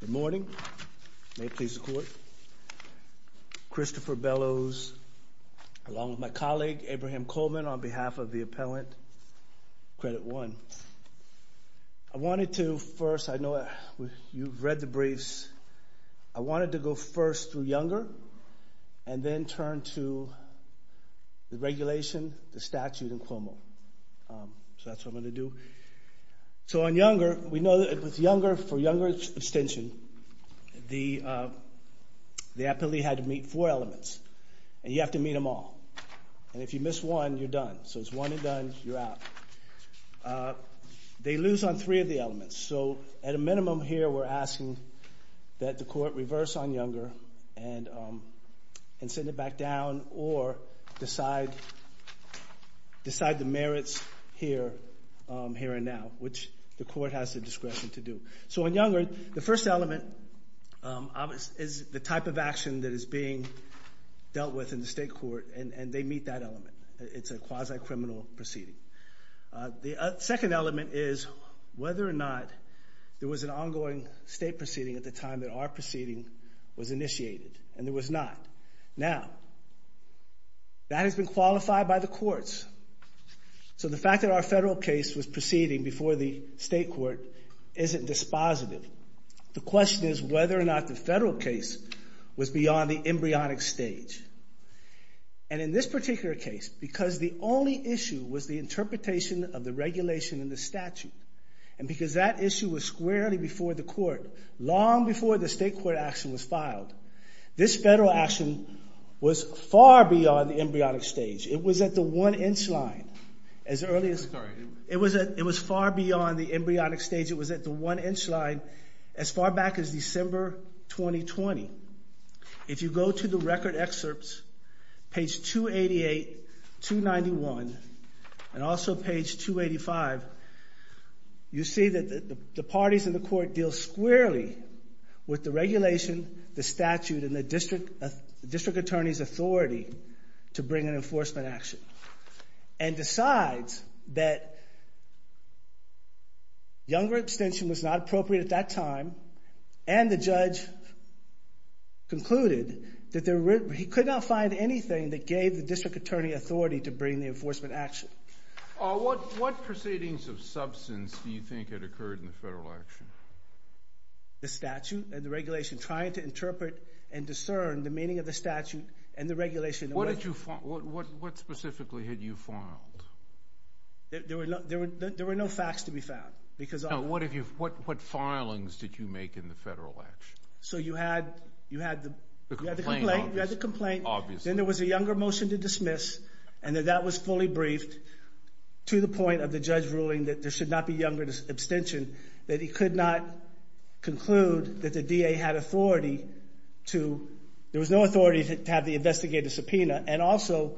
Good morning. May it please the court. Christopher Bellows, along with my colleague, Abraham Coleman, on behalf of the appellant, Credit One. I wanted to first, I know you've read the briefs, I wanted to go first through Younger and then turn to the regulation, the statute in Cuomo. So that's what I'm going to do. So on Younger, we know that it was Younger, for Younger's abstention, the appellee had to meet four elements, and you have to meet them all. And if you miss one, you're done. So it's one and done, you're out. They lose on three of the elements. So at a minimum here, we're asking that the court reverse on Younger and send it back down, or decide the merits here and now, which the court has the discretion to do. So on Younger, the first element is the type of action that is being dealt with in the state court, and they meet that element. It's a quasi-criminal proceeding. The second element is whether or not there was an ongoing state proceeding at the time that our proceeding was initiated, and there was not. Now, that has been qualified by the courts. So the fact that our federal case was proceeding before the state court isn't dispositive. The question is whether or not the federal case was beyond the embryonic stage. And in this particular case, because the only issue was the interpretation of the regulation and the statute, and because that issue was squarely before the court, long before the state court action was filed, this federal action was far beyond the embryonic stage. It was at the one-inch line as early as... Sorry. It was far beyond the embryonic stage. It was at the one-inch line as far back as December 2020. If you go to the record excerpts, page 288, 291, and also page 285, you see that the parties in the court deal squarely with the regulation, the statute, and the district attorney's authority to bring an enforcement action, and decides that Younger extension was not appropriate at that time, and the judge concluded that he could not find anything that gave the district attorney authority to bring the enforcement action. What proceedings of substance do you think had occurred in the federal action? The statute and the regulation, trying to interpret and discern the meaning of the statute and the regulation. What specifically had you filed? There were no facts to be found. What filings did you make in the federal action? You had the complaint, then there was a Younger motion to dismiss, and that was fully briefed to the point of the judge ruling that there should not be Younger abstention, that he could not conclude that the DA had authority to... There was no authority to have the investigator subpoena, and also,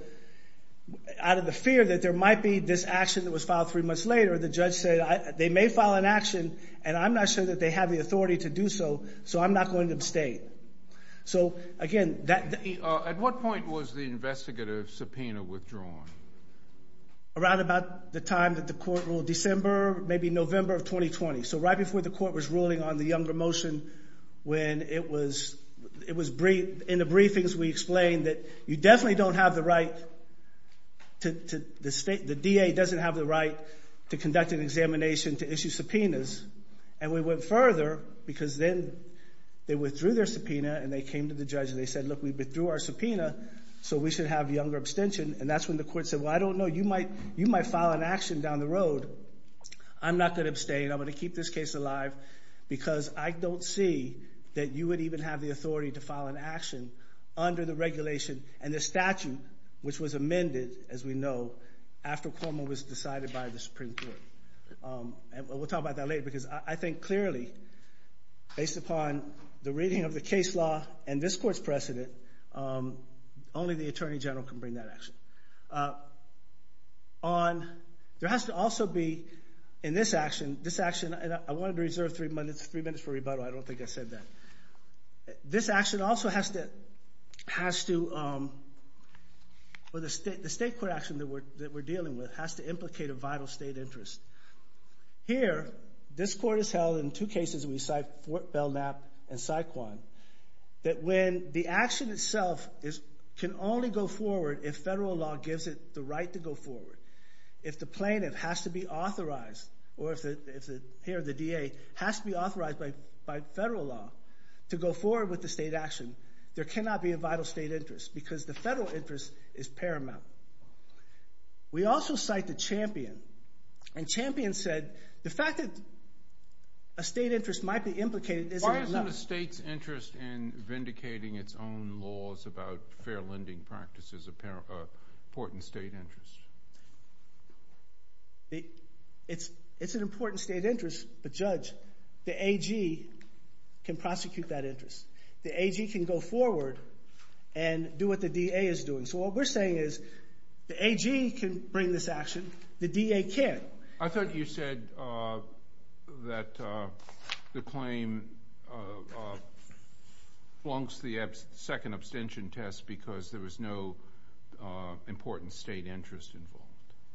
out of the fear that there might be this action that was filed three months later, the judge said, they may file an action, and I'm not sure that they have the authority to do so, so I'm not going to abstain. Again, that... At what point was the investigator subpoena withdrawn? Around about the time that the court ruled, December, maybe November of 2020, so right before the court was ruling on the Younger motion, when it was... In the briefings, we explained that you definitely don't have the right to... The DA doesn't have the right to conduct an examination to issue subpoenas, and we went further, because then they withdrew their subpoena, and they came to the judge, and they said, look, we withdrew our subpoena, so we should have Younger abstention, and that's when the court said, well, I don't know, you might file an action down the road. I'm not going to abstain. I'm going to keep this case alive, because I don't see that you would even have the authority to file an action under the regulation and the statute, which was amended, as we know, after Cuomo was decided by the Supreme Court, and we'll talk about that later, because I think clearly, based upon the reading of the case law and this court's precedent, only the Attorney General can bring that action. On... There has to also be, in this action, this action, and I wanted to reserve three minutes for rebuttal. I don't think I said that. This action also has to... The state court action that we're dealing with has to implicate a vital state interest. Here, this court has held in two cases, Belknap and Saquon, that when the action itself can only go forward if federal law gives it the right to go forward, if the plaintiff has to be authorized, or if the DA has to be authorized by federal law to go forward with the state action, there cannot be a vital state interest, because the federal interest is paramount. We also cite the Champion, and Champion said the fact that a state interest might be implicated isn't enough. What about a state's interest in vindicating its own laws about fair lending practices is an important state interest? It's an important state interest, but Judge, the AG can prosecute that interest. The AG can go forward and do what the DA is doing. So what we're saying is the AG can bring this action. The DA can't. I thought you said that the claim flunks the second abstention test because there was no important state interest involved.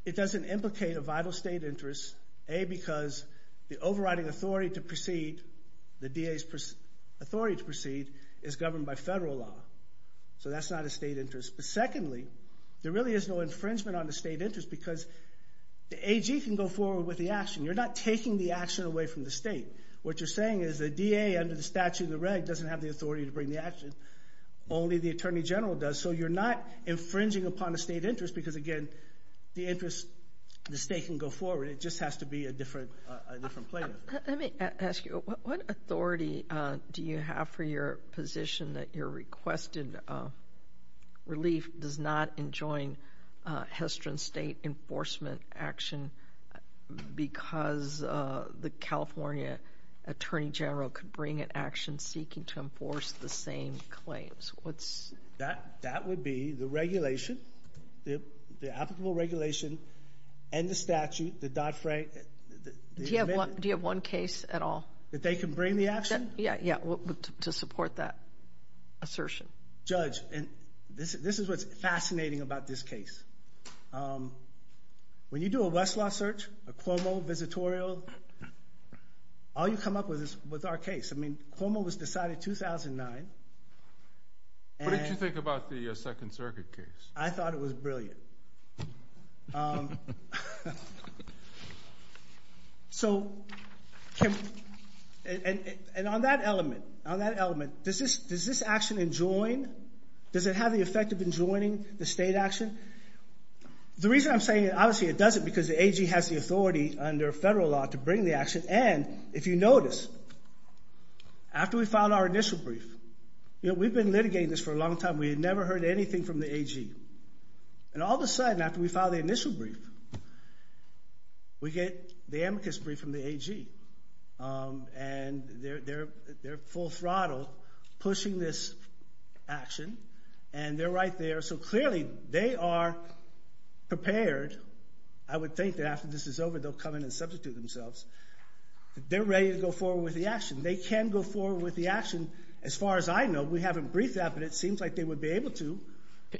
It doesn't implicate a vital state interest, A, because the overriding authority to proceed, the DA's authority to proceed, is governed by federal law. So that's not a state interest. But secondly, there really is no infringement on the state interest because the AG can go forward with the action. You're not taking the action away from the state. What you're saying is the DA, under the statute of the reg, doesn't have the authority to bring the action. Only the Attorney General does. So you're not infringing upon a state interest because, again, the interest, the state can go forward. It just has to be a different plaintiff. Let me ask you. What authority do you have for your position that your requested relief does not enjoin Hestron State enforcement action because the California Attorney General could bring an action seeking to enforce the same claims? That would be the regulation, the applicable regulation and the statute, the Dodd-Frank. Do you have one case at all? That they can bring the action? Yeah, to support that assertion. Judge, and this is what's fascinating about this case. When you do a Westlaw search, a Cuomo visitorial, all you come up with is our case. I mean, Cuomo was decided 2009. What did you think about the Second Circuit case? I thought it was brilliant. So, and on that element, on that element, does this action enjoin? Does it have the effect of enjoining the state action? The reason I'm saying, obviously, it doesn't because the AG has the authority under federal law to bring the action. And if you notice, after we filed our initial brief, we've been litigating this for a long time. We had never heard anything from the AG. And all of a sudden, after we filed the initial brief, we get the amicus brief from the AG. And they're full throttle pushing this action. And they're right there. So, clearly, they are prepared. I would think that after this is over, they'll come in and substitute themselves. They're ready to go forward with the action. They can go forward with the action. As far as I know, we haven't briefed that, but it seems like they would be able to.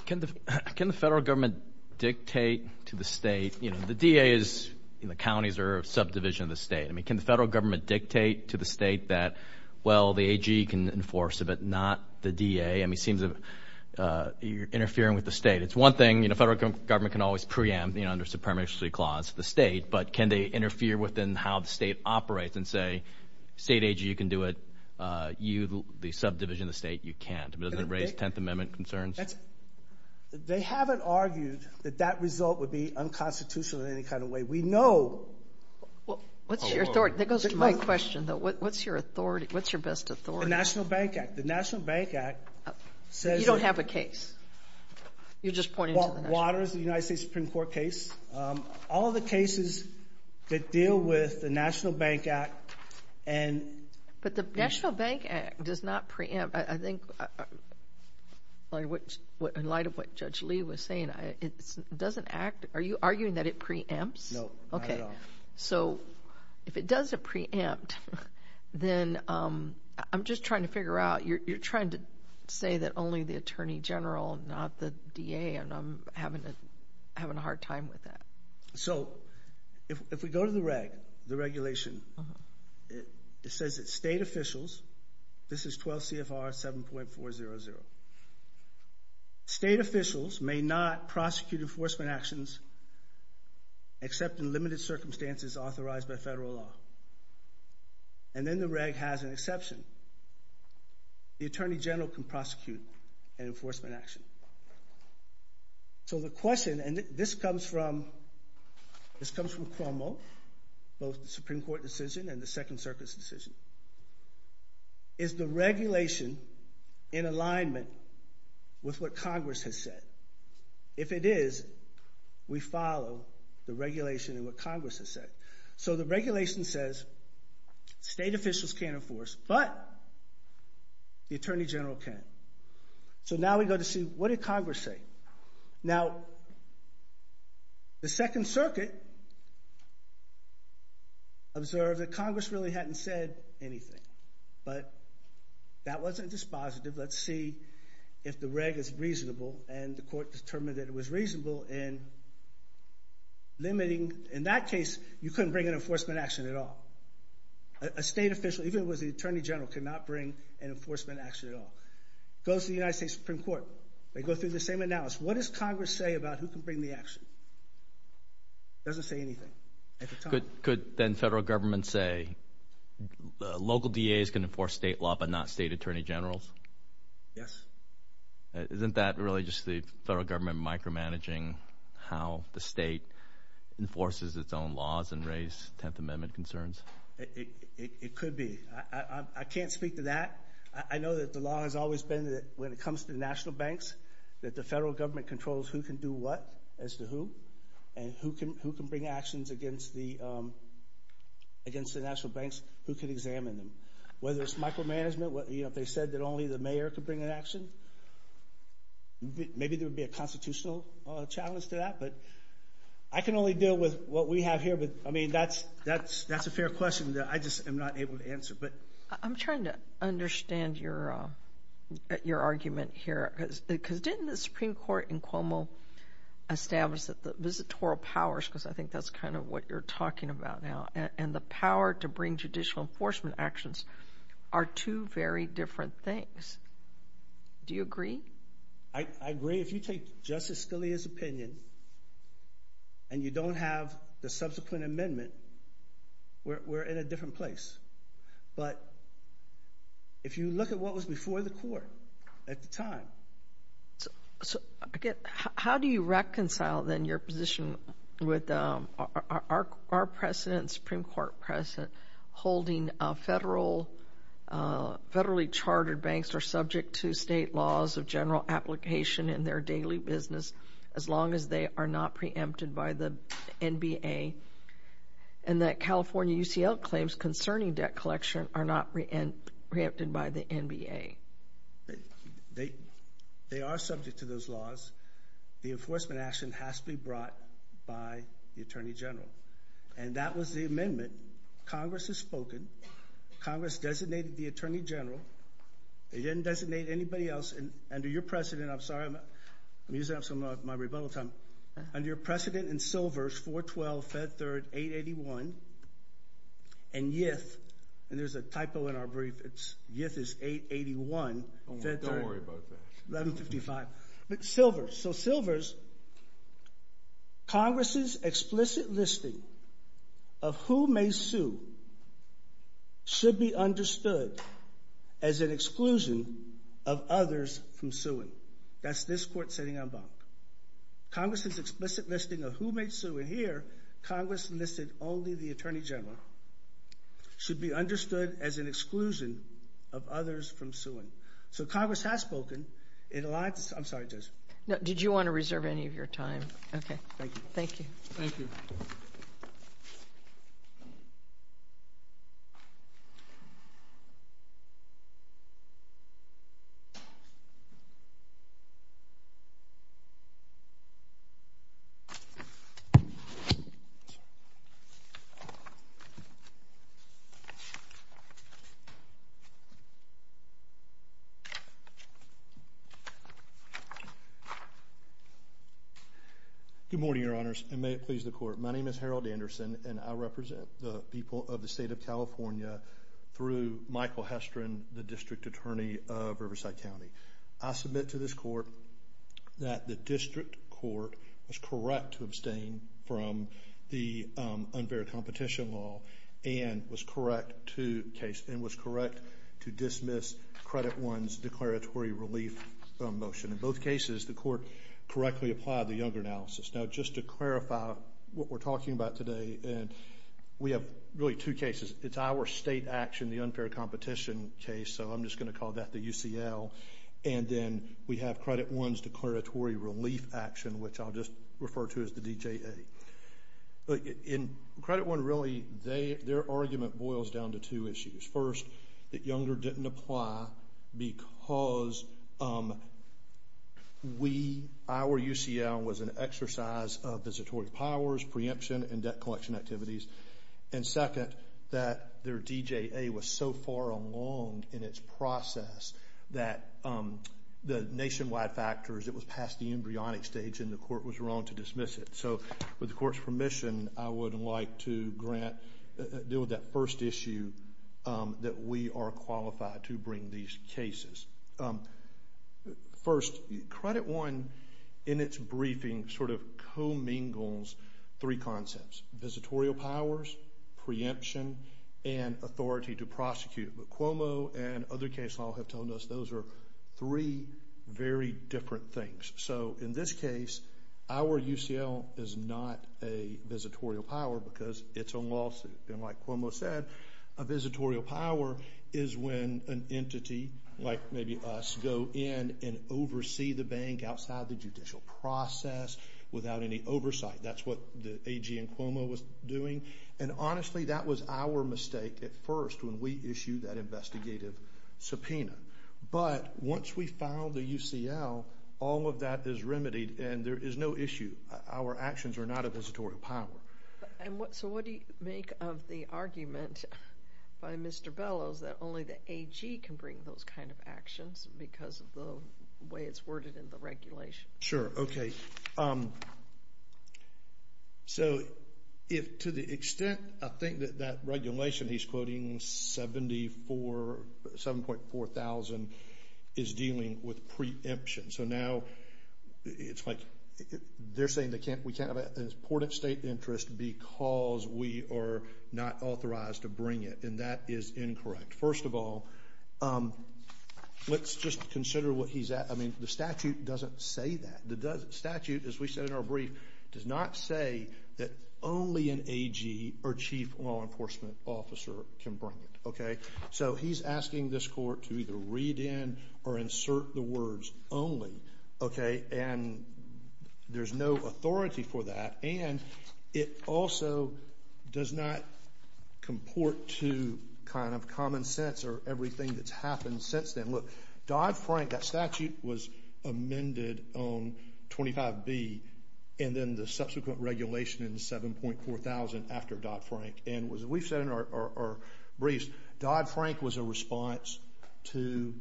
Can the federal government dictate to the state? You know, the DA is in the counties or subdivision of the state. I mean, can the federal government dictate to the state that, well, the AG can enforce it, but not the DA? I mean, it seems you're interfering with the state. It's one thing, you know, federal government can always preempt, you know, under the Supremacy Clause, the state. But can they interfere within how the state operates and say, state AG, you can do it. You, the subdivision of the state, you can't. Doesn't it raise Tenth Amendment concerns? They haven't argued that that result would be unconstitutional in any kind of way. We know. What's your authority? That goes to my question, though. What's your authority? What's your best authority? The National Bank Act. The National Bank Act says that. You don't have a case. You're just pointing to the National Bank Act. Waters, the United States Supreme Court case. All of the cases that deal with the National Bank Act and... The National Bank Act does not preempt. I think in light of what Judge Lee was saying, it doesn't act. Are you arguing that it preempts? No, not at all. Okay. So if it does preempt, then I'm just trying to figure out. You're trying to say that only the Attorney General, not the DA, and I'm having a hard time with that. So if we go to the reg, the regulation, it says that state officials... This is 12 CFR 7.400. State officials may not prosecute enforcement actions except in limited circumstances authorized by federal law. And then the reg has an exception. The Attorney General can prosecute an enforcement action. So the question, and this comes from Cuomo, both the Supreme Court decision and the Second Circuit's decision. Is the regulation in alignment with what Congress has said? If it is, we follow the regulation and what Congress has said. So the regulation says state officials can't enforce, but the Attorney General can. So now we go to see, what did Congress say? Now, the Second Circuit observed that Congress really hadn't said anything, but that wasn't dispositive. Let's see if the reg is reasonable, and the court determined that it was reasonable in limiting. In that case, you couldn't bring an enforcement action at all. A state official, even if it was the Attorney General, could not bring an enforcement action at all. It goes to the United States Supreme Court. They go through the same analysis. What does Congress say about who can bring the action? It doesn't say anything at the time. Could then federal government say local DAs can enforce state law but not state Attorney Generals? Yes. Isn't that really just the federal government micromanaging how the state enforces its own It could be. I can't speak to that. I know that the law has always been that when it comes to national banks, that the federal government controls who can do what as to who, and who can bring actions against the national banks, who can examine them. Whether it's micromanagement, if they said that only the mayor could bring an action, maybe there would be a constitutional challenge to that, but I can only deal with what we That's a fair question that I just am not able to answer. I'm trying to understand your argument here, because didn't the Supreme Court in Cuomo establish that the visitoral powers, because I think that's kind of what you're talking about now, and the power to bring judicial enforcement actions are two very different things. Do you agree? I agree. If you take Justice Scalia's opinion, and you don't have the subsequent amendment, we're in a different place, but if you look at what was before the court at the time. How do you reconcile, then, your position with our president, Supreme Court president, holding federally chartered banks are subject to state laws of general application in their daily business, as long as they are not preempted by the NBA, and that California UCL claims concerning debt collection are not preempted by the NBA? They are subject to those laws. The enforcement action has to be brought by the Attorney General, and that was the amendment Congress has spoken. Congress designated the Attorney General. They didn't designate anybody else, and under your precedent, I'm sorry, I'm using up some of my rebuttal time. Under your precedent in Silvers, 412, Fed Third, 881, and YIF, and there's a typo in our brief. YIF is 881. Don't worry about that. 1155. But Silvers, so Silvers, Congress's explicit listing of who may sue should be understood as an exclusion of others from suing. That's this court sitting on Bonk. Congress's explicit listing of who may sue, and here, Congress listed only the Attorney General, should be understood as an exclusion of others from suing. So Congress has spoken. I'm sorry, Judge. Did you want to reserve any of your time? Okay. Thank you. Thank you. Thank you. Good morning, Your Honors, and may it please the Court. My name is Harold Anderson, and I represent the people of the State of California through Michael Hestron, the District Attorney of Riverside County. I submit to this Court that the District Court was correct to abstain from the unbearable competition law and was correct to dismiss Credit One's declaratory relief motion. In both cases, the Court correctly applied the Younger analysis. Now, just to clarify what we're talking about today, we have really two cases. It's our state action, the unfair competition case, so I'm just going to call that the UCL, and then we have Credit One's declaratory relief action, which I'll just refer to as the DJA. In Credit One, really, their argument boils down to two issues. First, that Younger didn't apply because we, our UCL, was an exercise of visitory powers, preemption, and debt collection activities. And second, that their DJA was so far along in its process that the nationwide factors, it was past the embryonic stage, and the Court was wrong to dismiss it. So, with the Court's permission, I would like to grant, deal with that first issue that we are qualified to bring these cases. First, Credit One, in its briefing, sort of commingles three concepts. Visitorial powers, preemption, and authority to prosecute. But Cuomo and other case law have told us those are three very different things. So, in this case, our UCL is not a visitorial power because it's a lawsuit. And like Cuomo said, a visitorial power is when an entity, like maybe us, go in and oversee the bank outside the judicial process without any oversight. That's what the AG in Cuomo was doing. And honestly, that was our mistake at first when we issued that investigative subpoena. But once we filed the UCL, all of that is remedied, and there is no issue. Our actions are not a visitorial power. So, what do you make of the argument by Mr. Bellows that only the AG can bring those kind of actions because of the way it's worded in the regulation? Sure. Okay. So, to the extent I think that that regulation he's quoting, 7.4 thousand, is dealing with preemption. So, now it's like they're saying we can't have an important state interest because we are not authorized to bring it. And that is incorrect. First of all, let's just consider what he's at. I mean, the statute doesn't say that. The statute, as we said in our brief, does not say that only an AG or chief law enforcement officer can bring it. Okay? So, he's asking this court to either read in or insert the words only. Okay? And there's no authority for that. And it also does not comport to kind of common sense or everything that's happened since then. Look, Dodd-Frank, that statute was amended on 25B and then the subsequent regulation in 7.4 thousand after Dodd-Frank. And as we've said in our briefs, Dodd-Frank was a response to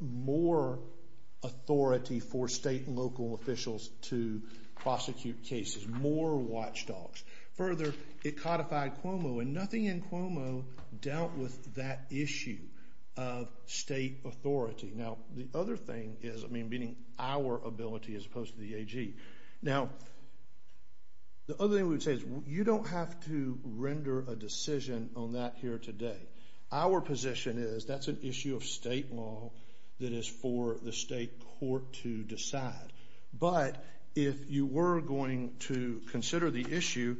more authority for state and local officials to prosecute cases, more watchdogs. Further, it codified Cuomo, and nothing in Cuomo dealt with that issue of state authority. Now, the other thing is, I mean, meaning our ability as opposed to the AG. Now, the other thing we would say is you don't have to render a decision on that here today. Our position is that's an issue of state law that is for the state court to decide. But if you were going to consider the issue,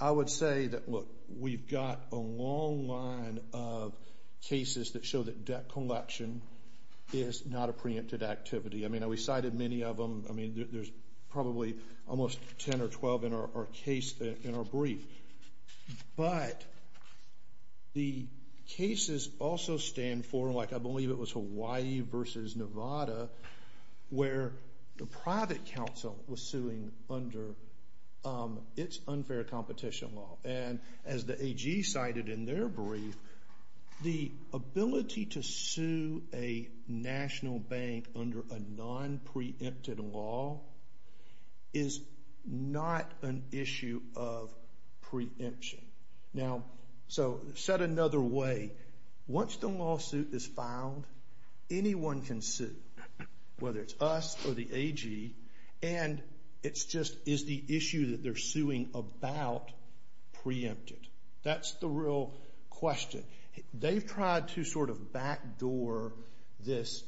I would say that, look, we've got a long line of cases that show that debt collection is not a preempted activity. I mean, we cited many of them. I mean, there's probably almost 10 or 12 in our brief. But the cases also stand for, like I believe it was Hawaii versus Nevada, where the private counsel was suing under its unfair competition law. And as the AG cited in their brief, the ability to sue a national bank under a non-preempted law is not an issue of preemption. Now, so said another way, once the lawsuit is filed, anyone can sue, whether it's us or the AG. And it's just, is the issue that they're suing about preempted? That's the real question. They've tried to sort of backdoor this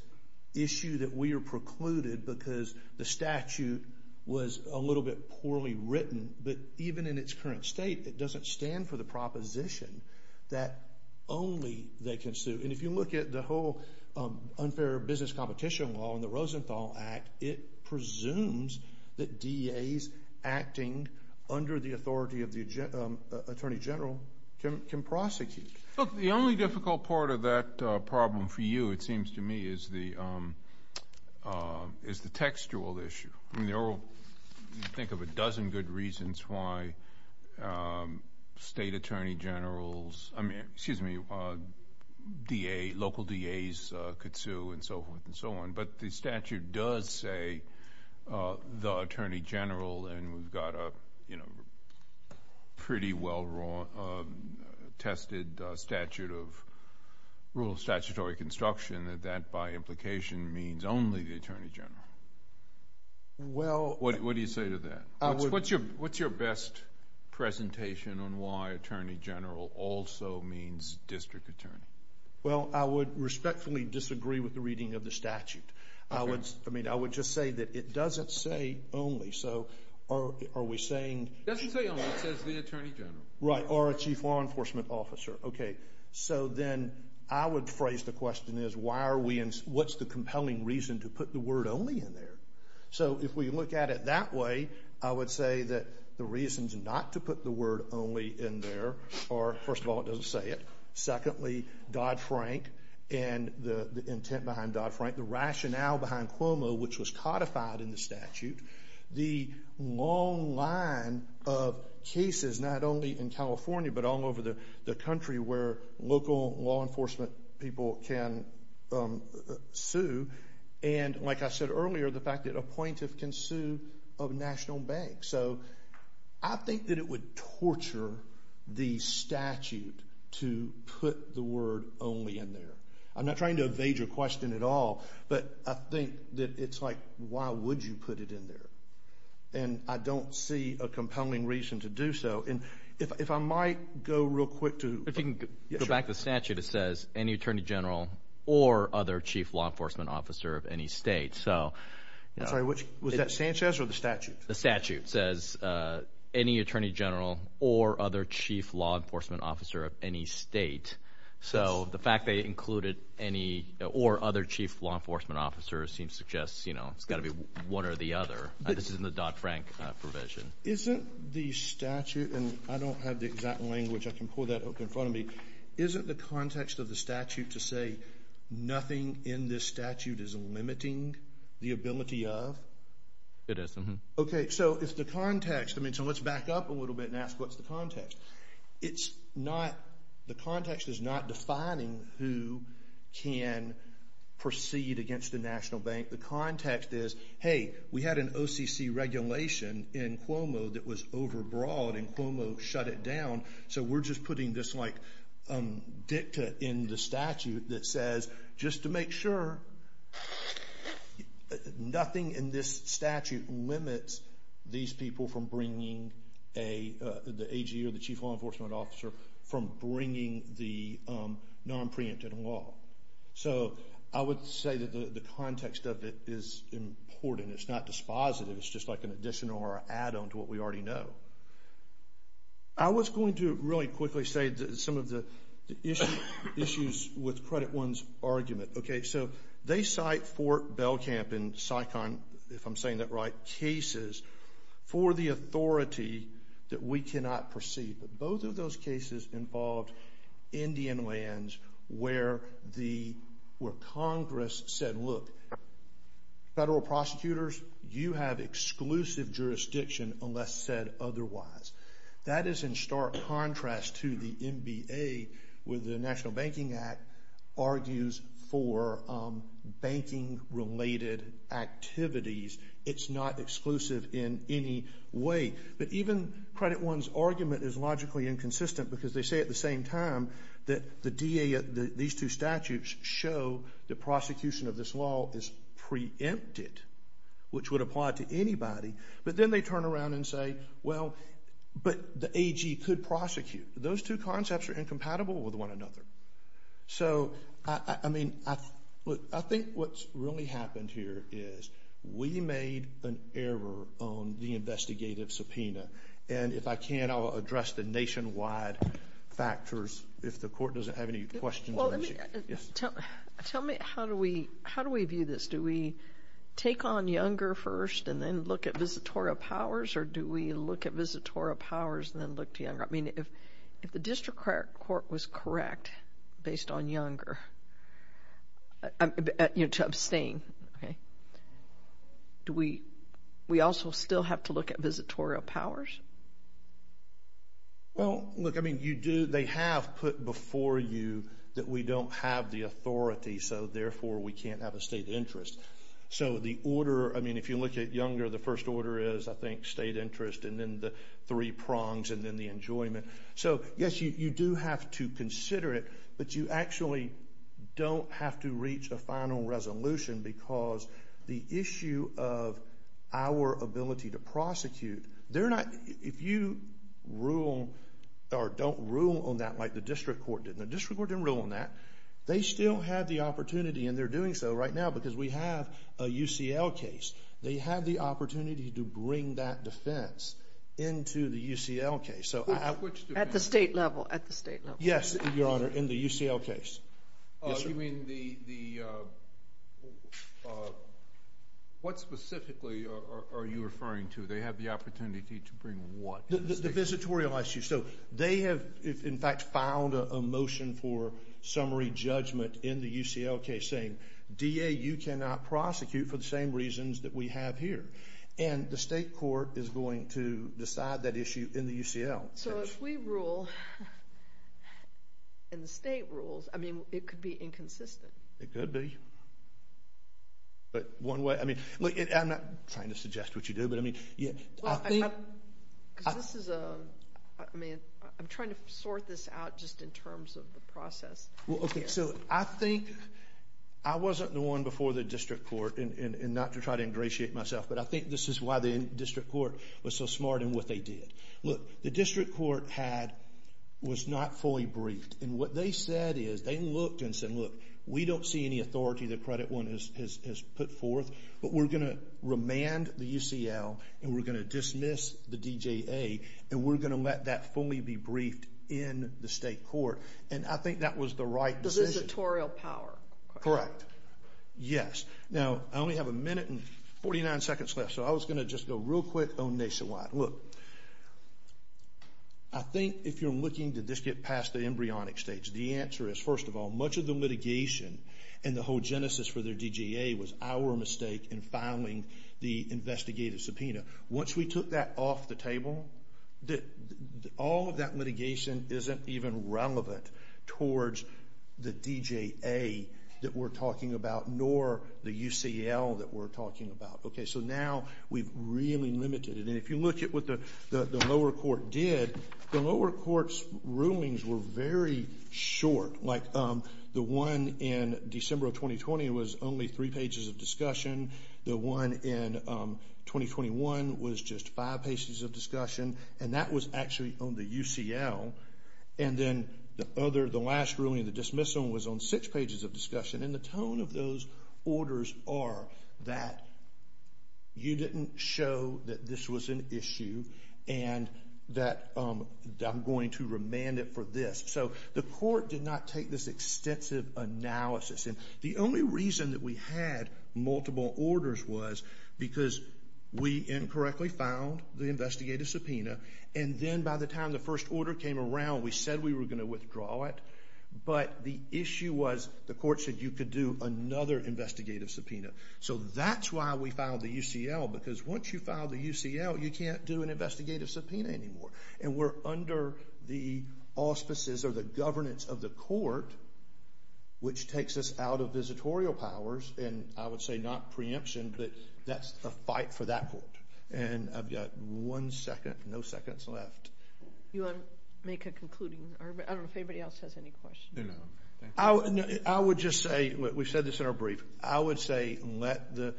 issue that we are precluded because the statute was a little bit poorly written. But even in its current state, it doesn't stand for the proposition that only they can sue. And if you look at the whole unfair business competition law in the Rosenthal Act, it presumes that DAs acting under the authority of the attorney general can prosecute. Look, the only difficult part of that problem for you, it seems to me, is the textual issue. Think of a dozen good reasons why state attorney generals, excuse me, DAs, local DAs could sue and so forth and so on. But the statute does say the attorney general. And we've got a pretty well-tested statute of rule of statutory construction that that by implication means only the attorney general. What do you say to that? What's your best presentation on why attorney general also means district attorney? Well, I would respectfully disagree with the reading of the statute. I mean, I would just say that it doesn't say only. So are we saying? It doesn't say only. It says the attorney general. Right. Or a chief law enforcement officer. Okay. So then I would phrase the question as why are we and what's the compelling reason to put the word only in there? So if we look at it that way, I would say that the reasons not to put the word only in there are, first of all, it doesn't say it. Secondly, Dodd-Frank and the intent behind Dodd-Frank, the rationale behind Cuomo, which was codified in the statute, the long line of cases not only in California but all over the country where local law enforcement people can sue, and, like I said earlier, the fact that a plaintiff can sue a national bank. So I think that it would torture the statute to put the word only in there. I'm not trying to evade your question at all, but I think that it's like why would you put it in there? And I don't see a compelling reason to do so. And if I might go real quick to – If you can go back to the statute, it says any attorney general or other chief law enforcement officer of any state. Was that Sanchez or the statute? The statute says any attorney general or other chief law enforcement officer of any state. So the fact they included any or other chief law enforcement officer seems to suggest it's got to be one or the other. This isn't the Dodd-Frank provision. Isn't the statute – and I don't have the exact language. I can pull that up in front of me. Isn't the context of the statute to say nothing in this statute is limiting the ability of? It is. Okay. So it's the context. So let's back up a little bit and ask what's the context. It's not – the context is not defining who can proceed against the national bank. The context is, hey, we had an OCC regulation in Cuomo that was overbroad, and Cuomo shut it down. So we're just putting this like dicta in the statute that says just to make sure nothing in this statute limits these people from bringing a – the AG or the chief law enforcement officer from bringing the non-preemptive law. So I would say that the context of it is important. It's not dispositive. It's just like an addition or an add-on to what we already know. I was going to really quickly say some of the issues with Credit One's argument. Okay. So they cite Fort Belcamp in Saigon, if I'm saying that right, cases for the authority that we cannot proceed. But both of those cases involved Indian lands where the – where Congress said, look, federal prosecutors, you have exclusive jurisdiction unless said otherwise. That is in stark contrast to the NBA where the National Banking Act argues for banking-related activities. It's not exclusive in any way. But even Credit One's argument is logically inconsistent because they say at the same time that the DA – which would apply to anybody, but then they turn around and say, well, but the AG could prosecute. Those two concepts are incompatible with one another. So, I mean, look, I think what's really happened here is we made an error on the investigative subpoena. And if I can, I'll address the nationwide factors if the court doesn't have any questions. Well, let me – tell me how do we – how do we view this? Do we take on Younger first and then look at Visitorial Powers? Or do we look at Visitorial Powers and then look to Younger? I mean, if the district court was correct based on Younger, you know, to abstain, okay, do we – we also still have to look at Visitorial Powers? Well, look, I mean, you do – they have put before you that we don't have the authority, so therefore we can't have a state interest. So the order – I mean, if you look at Younger, the first order is, I think, state interest and then the three prongs and then the enjoyment. So, yes, you do have to consider it, but you actually don't have to reach a final resolution because the issue of our ability to prosecute, they're not – if you rule – or don't rule on that like the district court did. The district court didn't rule on that. They still have the opportunity, and they're doing so right now because we have a UCL case. They have the opportunity to bring that defense into the UCL case. At the state level, at the state level. Yes, Your Honor, in the UCL case. You mean the – what specifically are you referring to? They have the opportunity to bring what? The Visitorial Issue. Visitorial Issue. So they have, in fact, filed a motion for summary judgment in the UCL case saying, DA, you cannot prosecute for the same reasons that we have here. And the state court is going to decide that issue in the UCL case. So if we rule and the state rules, I mean, it could be inconsistent. It could be. But one way – I mean, look, I'm not trying to suggest what you do, but I mean – Because this is a – I mean, I'm trying to sort this out just in terms of the process. Well, okay, so I think – I wasn't the one before the district court, and not to try to ingratiate myself, but I think this is why the district court was so smart in what they did. Look, the district court had – was not fully briefed. And what they said is they looked and said, look, we don't see any authority that Credit One has put forth, but we're going to remand the UCL, and we're going to dismiss the DJA, and we're going to let that fully be briefed in the state court. And I think that was the right decision. Because it's a tutorial power. Correct. Yes. Now, I only have a minute and 49 seconds left, so I was going to just go real quick on nationwide. Look, I think if you're looking to just get past the embryonic stage, the answer is, first of all, much of the litigation and the whole genesis for their DJA was our mistake in filing the investigative subpoena. Once we took that off the table, all of that litigation isn't even relevant towards the DJA that we're talking about, nor the UCL that we're talking about. Okay, so now we've really limited it. And if you look at what the lower court did, the lower court's rulings were very short. Like the one in December of 2020 was only three pages of discussion. The one in 2021 was just five pages of discussion. And that was actually on the UCL. And then the last ruling, the dismissal, was on six pages of discussion. And the tone of those orders are that you didn't show that this was an issue and that I'm going to remand it for this. So the court did not take this extensive analysis. And the only reason that we had multiple orders was because we incorrectly filed the investigative subpoena. And then by the time the first order came around, we said we were going to withdraw it. But the issue was the court said you could do another investigative subpoena. So that's why we filed the UCL, because once you file the UCL, you can't do an investigative subpoena anymore. And we're under the auspices or the governance of the court, which takes us out of visitorial powers, and I would say not preemption, but that's a fight for that court. And I've got one second, no seconds left. You want to make a concluding? I don't know if anybody else has any questions. I would just say, we said this in our brief, I would say let the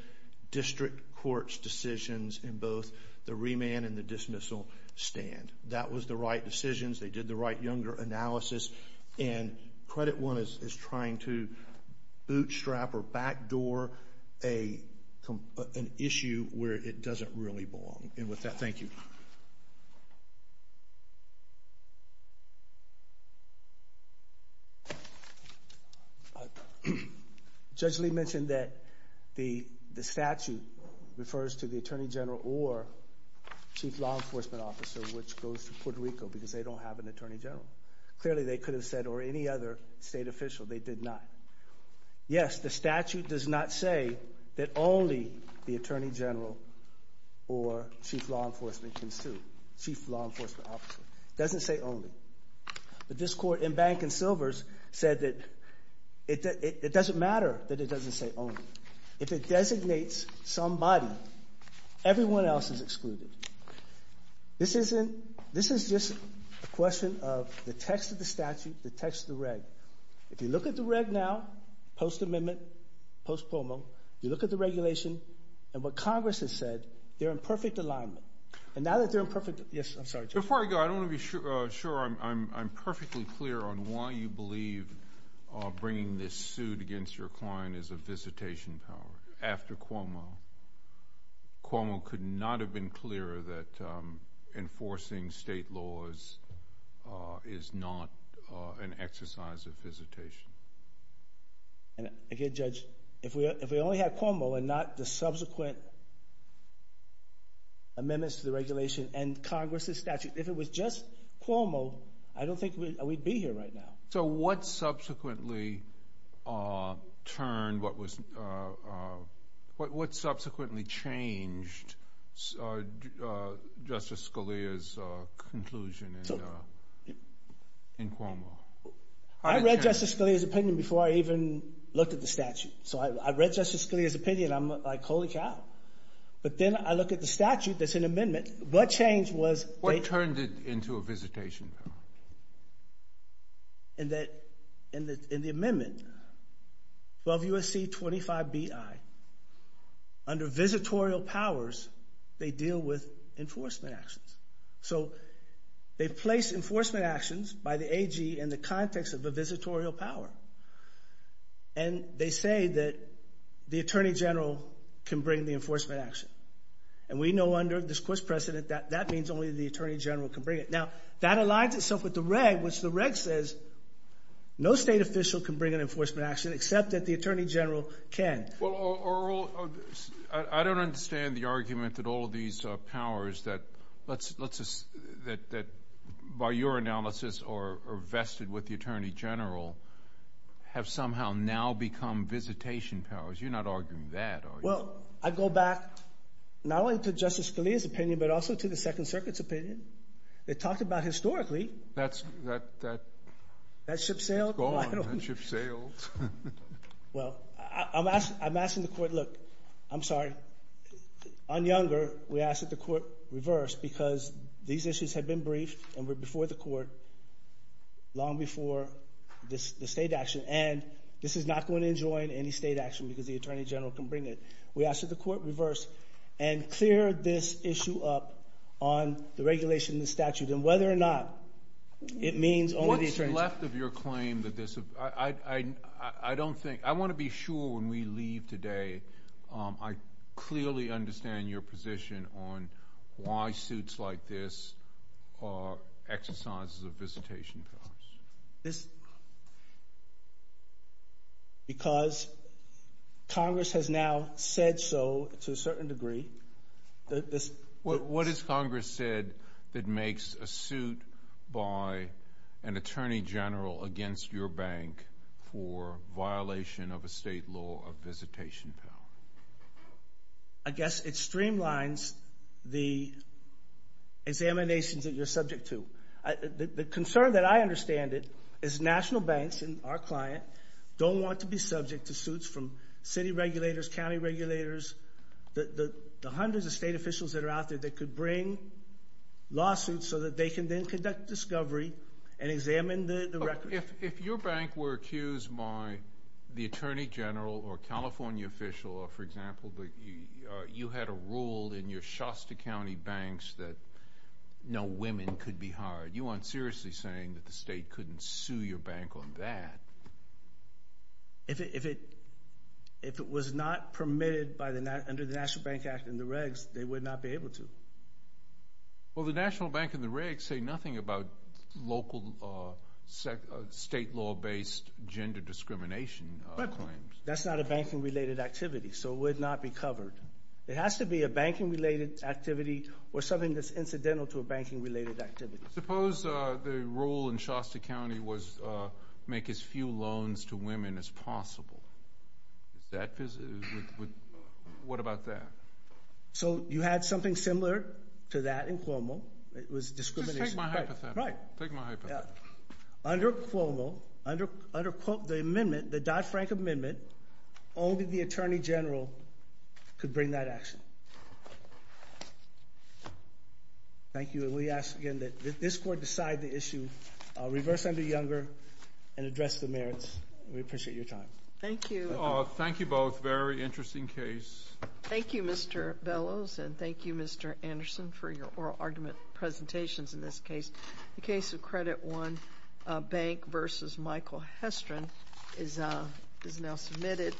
district court's decisions in both the remand and the dismissal stand. That was the right decisions. They did the right younger analysis. And Credit One is trying to bootstrap or backdoor an issue where it doesn't really belong. And with that, thank you. Judge Lee mentioned that the statute refers to the attorney general or chief law enforcement officer, which goes to Puerto Rico, because they don't have an attorney general. Clearly they could have said, or any other state official, they did not. Yes, the statute does not say that only the attorney general or chief law enforcement can sue, chief law enforcement officer. It doesn't say only. But this court in Bank and Silvers said that it doesn't matter that it doesn't say only. If it designates somebody, everyone else is excluded. This is just a question of the text of the statute, the text of the reg. If you look at the reg now, post-amendment, post-POMO, you look at the regulation and what Congress has said, they're in perfect alignment. Before I go, I want to be sure I'm perfectly clear on why you believe bringing this suit against your client is a visitation power after Cuomo. Cuomo could not have been clearer that enforcing state laws is not an exercise of visitation. Again, Judge, if we only had Cuomo and not the subsequent amendments to the regulation and Congress's statute, if it was just Cuomo, I don't think we'd be here right now. So what subsequently changed Justice Scalia's conclusion in Cuomo? I read Justice Scalia's opinion before I even looked at the statute. So I read Justice Scalia's opinion. I'm like, holy cow. But then I look at the statute that's in amendment. What changed was they— What turned it into a visitation? In the amendment, 12 U.S.C. 25 B.I., under visitorial powers, they deal with enforcement actions. So they place enforcement actions by the AG in the context of a visitorial power. And they say that the attorney general can bring the enforcement action. And we know under this court's precedent that that means only the attorney general can bring it. Now, that aligns itself with the reg, which the reg says no state official can bring an enforcement action except that the attorney general can. Well, Earl, I don't understand the argument that all of these powers that, by your analysis, are vested with the attorney general have somehow now become visitation powers. You're not arguing that, are you? Well, I go back not only to Justice Scalia's opinion but also to the Second Circuit's opinion. They talked about historically— That ship sailed? It's gone. That ship sailed. Well, I'm asking the court, look—I'm sorry. On Younger, we asked that the court reverse because these issues had been briefed and were before the court long before the state action. And this is not going to enjoin any state action because the attorney general can bring it. We asked that the court reverse and clear this issue up on the regulation in the statute and whether or not it means only the attorney general. I'm left of your claim that this—I don't think—I want to be sure when we leave today I clearly understand your position on why suits like this are exercises of visitation powers. This is because Congress has now said so to a certain degree. What has Congress said that makes a suit by an attorney general against your bank for violation of a state law of visitation power? I guess it streamlines the examinations that you're subject to. The concern that I understand it is national banks and our client don't want to be subject to suits from city regulators, county regulators, the hundreds of state officials that are out there that could bring lawsuits so that they can then conduct discovery and examine the records. If your bank were accused by the attorney general or a California official or, for example, you had a rule in your Shasta County banks that no women could be hired, you aren't seriously saying that the state couldn't sue your bank on that. If it was not permitted under the National Bank Act and the regs, they would not be able to. Well, the National Bank and the regs say nothing about local state law-based gender discrimination claims. That's not a banking-related activity, so it would not be covered. It has to be a banking-related activity or something that's incidental to a banking-related activity. Suppose the rule in Shasta County was make as few loans to women as possible. What about that? So you had something similar to that in Cuomo. It was discrimination. Just take my hypothetical. Right. Take my hypothetical. Under Cuomo, under the Dodd-Frank Amendment, only the attorney general could bring that action. Thank you. We ask again that this Court decide the issue, reverse under Younger, and address the merits. We appreciate your time. Thank you. Thank you both. Very interesting case. Thank you, Mr. Bellows, and thank you, Mr. Anderson, for your oral argument presentations in this case. The case of Credit One Bank v. Michael Hestron is now submitted.